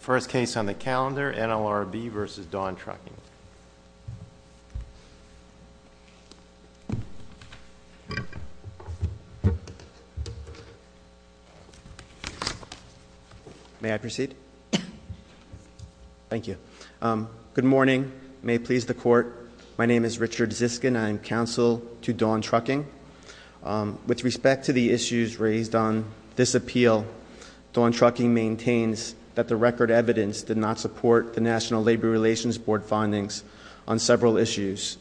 First case on the calendar, NLRB versus Dawn Trucking. May I proceed? Thank you. Good morning. May it please the court. My name is Richard Ziskin. I am counsel to Dawn Trucking. With respect to the issues raised on this appeal, Dawn Trucking maintains that the record evidence did not support the National Labor Relations Board findings on several issues.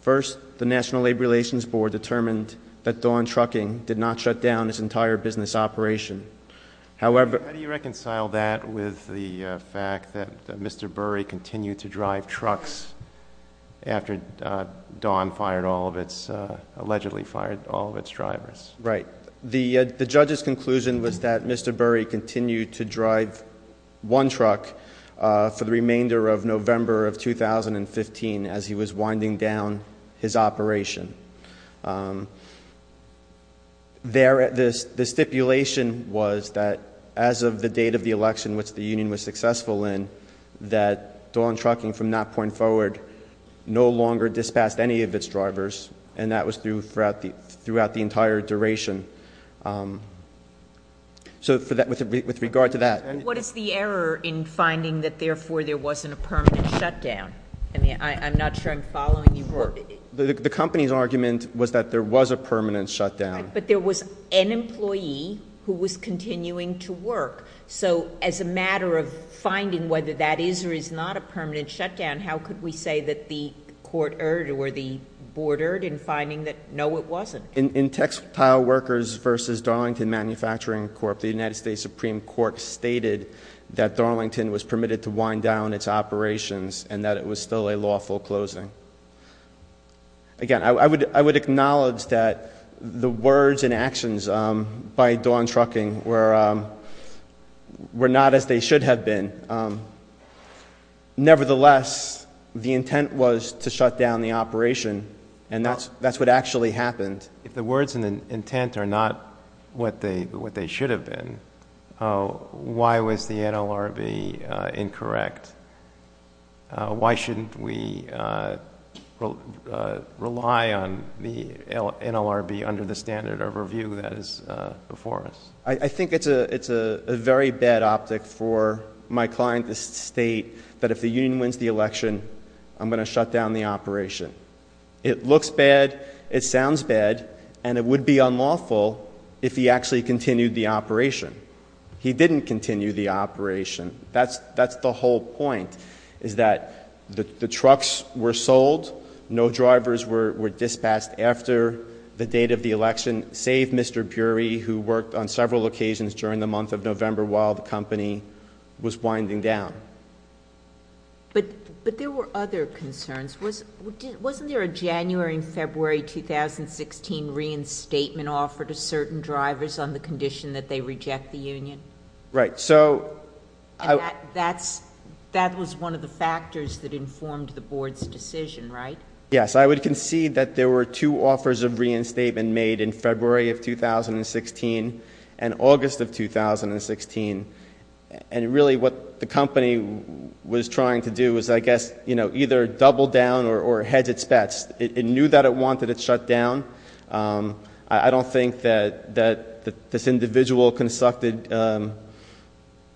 First, the National Labor Relations Board determined that Dawn Trucking did not shut down its entire business operation. However- How do you reconcile that with the fact that Mr. Burry continued to drive trucks after Dawn allegedly fired all of its drivers? Right. The judge's conclusion was that Mr. Burry continued to drive one truck for the remainder of November of 2015 as he was winding down his operation. The stipulation was that as of the date of the election which the union was successful in, that Dawn Trucking from that point forward no longer dispatched any of its drivers. And that was throughout the entire duration. So with regard to that- What is the error in finding that therefore there wasn't a permanent shutdown? I mean, I'm not sure I'm following you. The company's argument was that there was a permanent shutdown. But there was an employee who was continuing to work. So as a matter of finding whether that is or is not a permanent shutdown, how could we say that the court erred or the board erred in finding that no, it wasn't? In Textile Workers versus Darlington Manufacturing Corp, the United States Supreme Court stated that Darlington was permitted to wind down its operations and that it was still a lawful closing. Again, I would acknowledge that the words and actions by Dawn Trucking were not as they should have been. Nevertheless, the intent was to shut down the operation. And that's what actually happened. If the words and the intent are not what they should have been, why was the NLRB incorrect? Why shouldn't we rely on the NLRB under the standard of review that is before us? I think it's a very bad optic for my client to state that if the union wins the election, I'm going to shut down the operation. It looks bad, it sounds bad, and it would be unlawful if he actually continued the operation. He didn't continue the operation. That's the whole point, is that the trucks were sold, no drivers were dispatched after the date of the election, save Mr. Bury, who worked on several occasions during the month of November while the company was winding down. But there were other concerns. Wasn't there a January and February 2016 reinstatement offer to certain drivers on the condition that they reject the union? Right, so- And that was one of the factors that informed the board's decision, right? Yes, I would concede that there were two offers of reinstatement made in February of 2016 and August of 2016. And really what the company was trying to do was, I guess, either double down or hedge its bets. It knew that it wanted it shut down. I don't think that this individual consulted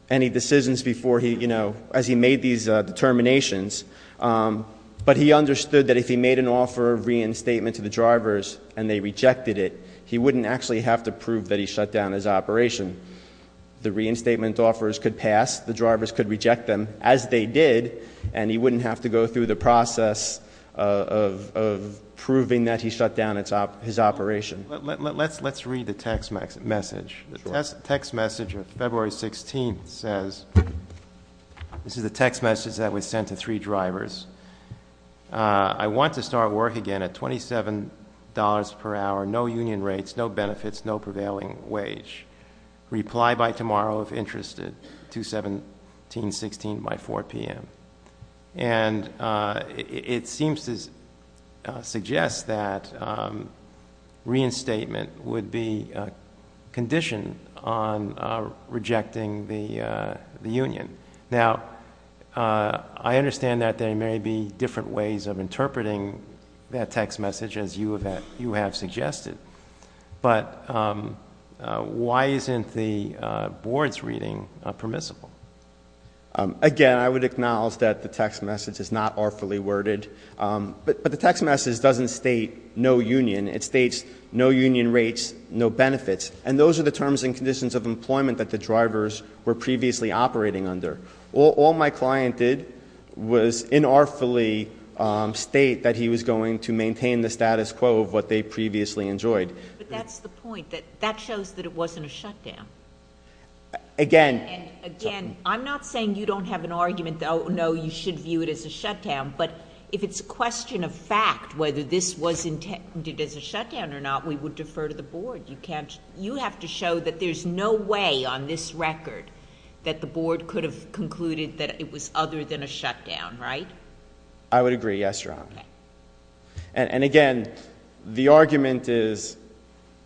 any decisions before he, as he made these determinations, but he understood that if he made an offer of reinstatement to the drivers and they rejected it, he wouldn't actually have to prove that he shut down his operation. The reinstatement offers could pass, the drivers could reject them as they did, and he wouldn't have to go through the process of proving that he shut down his operation. Let's read the text message. The text message of February 16th says, this is the text message that was sent to three drivers. I want to start work again at $27 per hour, no union rates, no benefits, no prevailing wage. Reply by tomorrow if interested, 2-17-16 by 4 PM. And it seems to suggest that reinstatement would be conditioned on rejecting the union. Now, I understand that there may be different ways of interpreting that text message, as you have suggested. But why isn't the board's reading permissible? Again, I would acknowledge that the text message is not awfully worded, but the text message doesn't state no union. It states no union rates, no benefits. And those are the terms and conditions of employment that the drivers were previously operating under. All my client did was inartfully state that he was going to maintain the status quo of what they previously enjoyed. But that's the point, that that shows that it wasn't a shutdown. Again- Again, I'm not saying you don't have an argument that, no, you should view it as a shutdown. But if it's a question of fact, whether this was intended as a shutdown or not, we would defer to the board. You have to show that there's no way on this record that the board could have concluded that it was other than a shutdown, right? I would agree, yes, Your Honor. And again, the argument is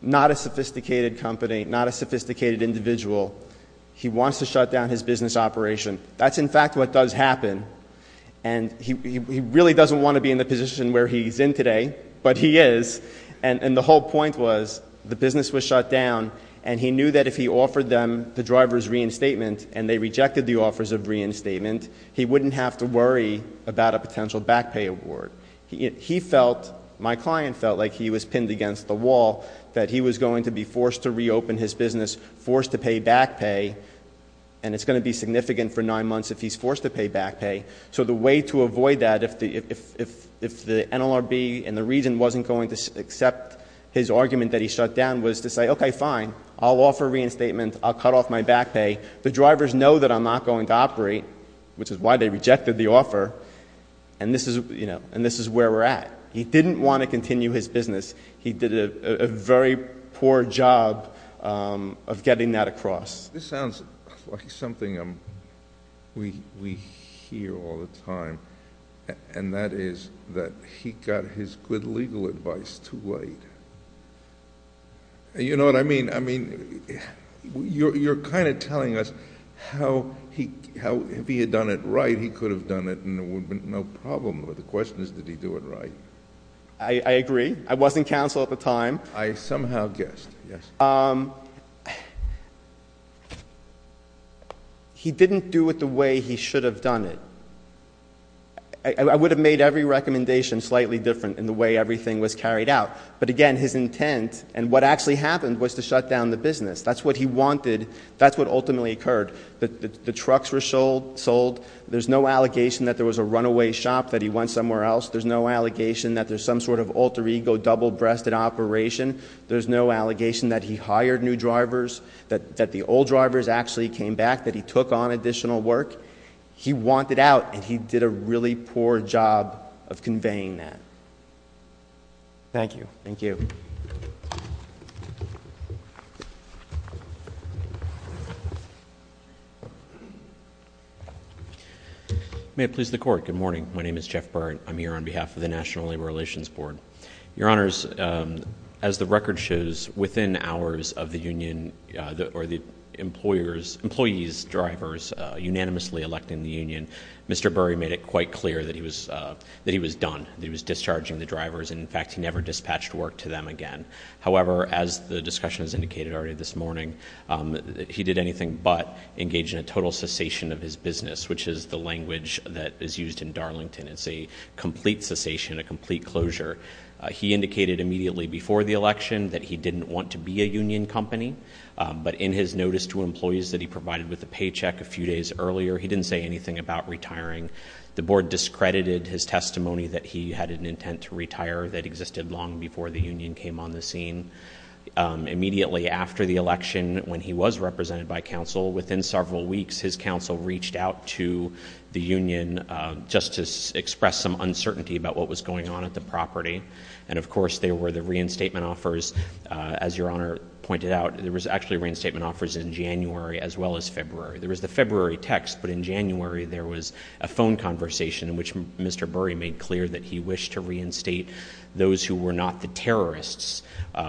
not a sophisticated company, not a sophisticated individual. He wants to shut down his business operation. That's in fact what does happen. And he really doesn't want to be in the position where he's in today, but he is. And the whole point was, the business was shut down, and he knew that if he offered them the driver's reinstatement, and they rejected the offers of reinstatement, he wouldn't have to worry about a potential back pay award. He felt, my client felt like he was pinned against the wall, that he was going to be forced to reopen his business, forced to pay back pay. And it's going to be significant for nine months if he's forced to pay back pay. So the way to avoid that if the NLRB and the region wasn't going to accept his argument that he shut down was to say, okay, fine, I'll offer reinstatement, I'll cut off my back pay. The drivers know that I'm not going to operate, which is why they rejected the offer, and this is where we're at. He didn't want to continue his business. He did a very poor job of getting that across. This sounds like something we hear all the time, and that is that he got his good legal advice too late. You know what I mean? I mean, you're kind of telling us how, if he had done it right, he could have done it and there would have been no problem, but the question is, did he do it right? I agree. I wasn't counsel at the time. I somehow guessed, yes. He didn't do it the way he should have done it. I would have made every recommendation slightly different in the way everything was carried out. But again, his intent, and what actually happened was to shut down the business. That's what he wanted, that's what ultimately occurred. The trucks were sold, there's no allegation that there was a runaway shop that he went somewhere else. There's no allegation that there's some sort of alter ego double breasted operation. There's no allegation that he hired new drivers, that the old drivers actually came back, that he took on additional work. He wanted out, and he did a really poor job of conveying that. Thank you. Thank you. May it please the court. Good morning. My name is Jeff Byrd. I'm here on behalf of the National Labor Relations Board. Your honors, as the record shows, within hours of the union or the employees' drivers unanimously electing the union, Mr. Burry made it quite clear that he was done, that he was discharging the drivers. In fact, he never dispatched work to them again. However, as the discussion has indicated already this morning, he did anything but engage in a total cessation of his business, which is the language that is used in Darlington. And it's a complete cessation, a complete closure. He indicated immediately before the election that he didn't want to be a union company. But in his notice to employees that he provided with a paycheck a few days earlier, he didn't say anything about retiring. The board discredited his testimony that he had an intent to retire that existed long before the union came on the scene. Immediately after the election, when he was represented by council, within several weeks his council reached out to the union just to express some uncertainty about what was going on at the property. And of course there were the reinstatement offers, as your honor pointed out, there was actually reinstatement offers in January as well as February. There was the February text, but in January there was a phone conversation in which Mr. Burry made clear that he wished to reinstate those who were not the terrorists,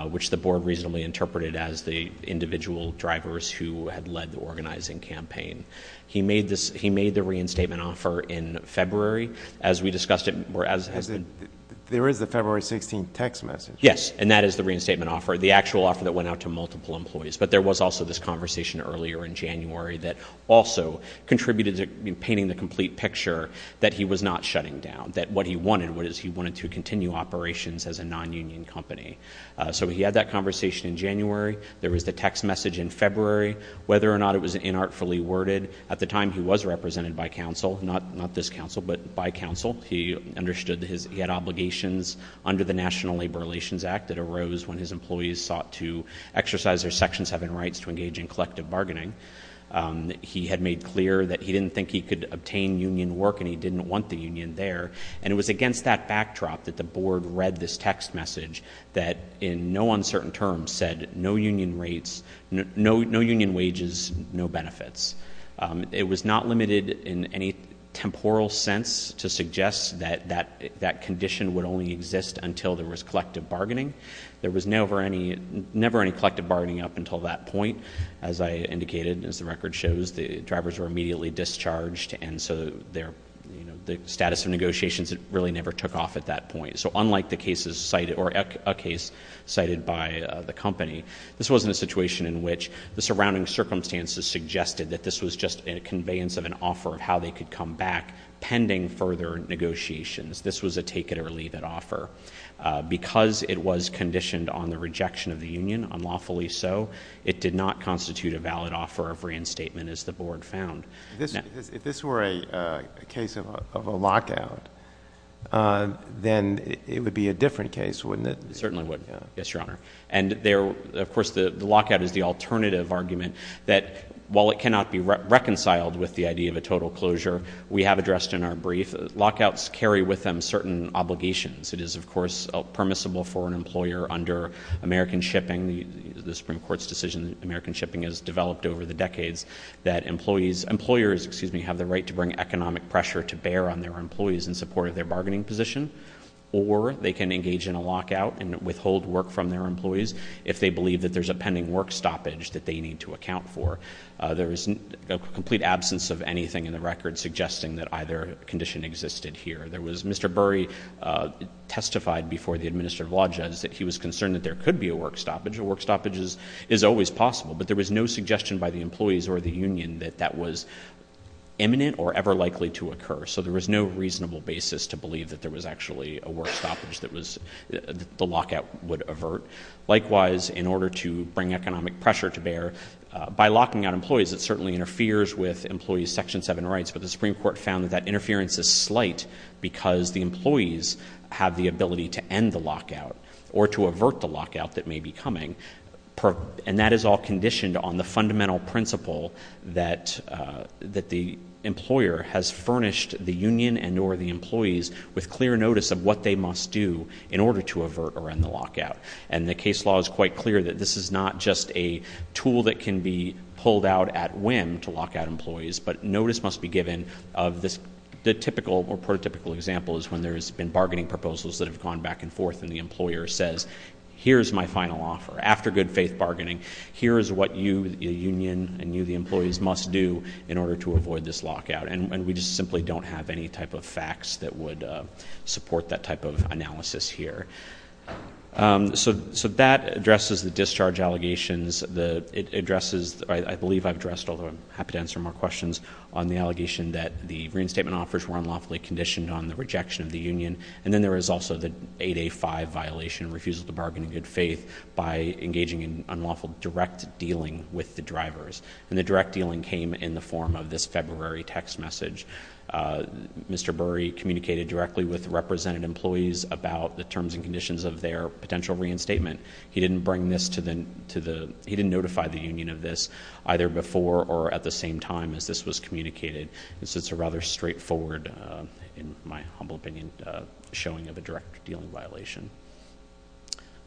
which the board reasonably interpreted as the individual drivers who had led the organizing campaign. He made the reinstatement offer in February, as we discussed it. There is the February 16th text message. Yes, and that is the reinstatement offer, the actual offer that went out to multiple employees. But there was also this conversation earlier in January that also contributed to painting the complete picture that he was not shutting down. That what he wanted was he wanted to continue operations as a non-union company. So he had that conversation in January, there was the text message in February, whether or not it was inartfully worded. At the time he was represented by council, not this council, but by council. He understood he had obligations under the National Labor Relations Act that arose when his employees sought to exercise their section seven rights to engage in collective bargaining. He had made clear that he didn't think he could obtain union work and he didn't want the union there. And it was against that backdrop that the board read this text message that in no uncertain terms said no union rates, no union wages, no benefits. It was not limited in any temporal sense to suggest that that condition would only exist until there was collective bargaining. There was never any collective bargaining up until that point. As I indicated, as the record shows, the drivers were immediately discharged and so the status of negotiations really never took off at that point. So unlike the cases cited, or a case cited by the company, this wasn't a situation in which the surrounding circumstances suggested that this was just a conveyance of an offer of how they could come back pending further negotiations. This was a take it or leave it offer. Because it was conditioned on the rejection of the union, unlawfully so, it did not constitute a valid offer of reinstatement as the board found. If this were a case of a lockout, then it would be a different case, wouldn't it? Certainly would, yes, your honor. And of course, the lockout is the alternative argument that while it cannot be reconciled with the idea of a total closure, we have addressed in our brief, lockouts carry with them certain obligations. It is, of course, permissible for an employer under American Shipping, the Supreme Court's decision that American Shipping has developed over the decades, that employers, excuse me, have the right to bring economic pressure to bear on their employees in support of their bargaining position. Or they can engage in a lockout and withhold work from their employees if they believe that there's a pending work stoppage that they need to account for. There is a complete absence of anything in the record suggesting that either condition existed here. Mr. Burry testified before the Administrative Law Judge that he was concerned that there could be a work stoppage. A work stoppage is always possible. But there was no suggestion by the employees or the union that that was imminent or ever likely to occur. So there was no reasonable basis to believe that there was actually a work stoppage that the lockout would avert. Likewise, in order to bring economic pressure to bear, by locking out employees, it certainly interferes with employees' section seven rights. But the Supreme Court found that that interference is slight because the employees have the ability to end the lockout or to avert the lockout that may be coming, and that is all conditioned on the fundamental principle that the employer has furnished the union and or the employees with clear notice of what they must do in order to avert or end the lockout. And the case law is quite clear that this is not just a tool that can be pulled out at whim to lock out employees. But notice must be given of this, the typical or prototypical example is when there's been bargaining proposals that have gone back and forth. And the employer says, here's my final offer. After good faith bargaining, here is what you, the union, and you, the employees, must do in order to avoid this lockout. And we just simply don't have any type of facts that would support that type of analysis here. So that addresses the discharge allegations. It addresses, I believe I've addressed, although I'm happy to answer more questions, on the allegation that the reinstatement offers were unlawfully conditioned on the rejection of the union. And then there is also the 8A5 violation, refusal to bargain in good faith by engaging in unlawful direct dealing with the drivers. And the direct dealing came in the form of this February text message. Mr. Burry communicated directly with the represented employees about the terms and conditions of their potential reinstatement. He didn't bring this to the, he didn't notify the union of this, either before or at the same time as this was communicated. This is a rather straightforward, in my humble opinion, showing of a direct dealing violation.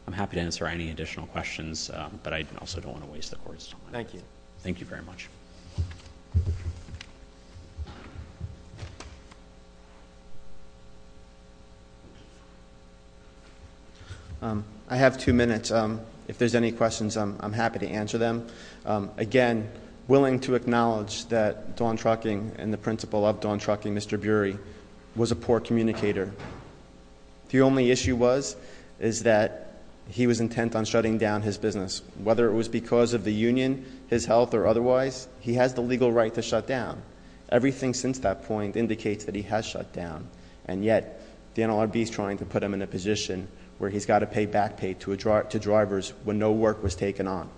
I'm happy to answer any additional questions, but I also don't want to waste the court's time. Thank you. Thank you very much. I have two minutes. If there's any questions, I'm happy to answer them. Again, willing to acknowledge that Dawn Trucking and the principal of Dawn Trucking, Mr. Burry, was a poor communicator. The only issue was, is that he was intent on shutting down his business. Whether it was because of the union, his health, or otherwise, he has the legal right to shut down. Everything since that point indicates that he has shut down. And yet, the NLRB's trying to put him in a position where he's got to pay back pay to drivers when no work was taken on.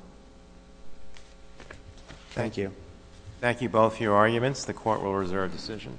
Thank you. Thank you both for your arguments. The court will reserve decision.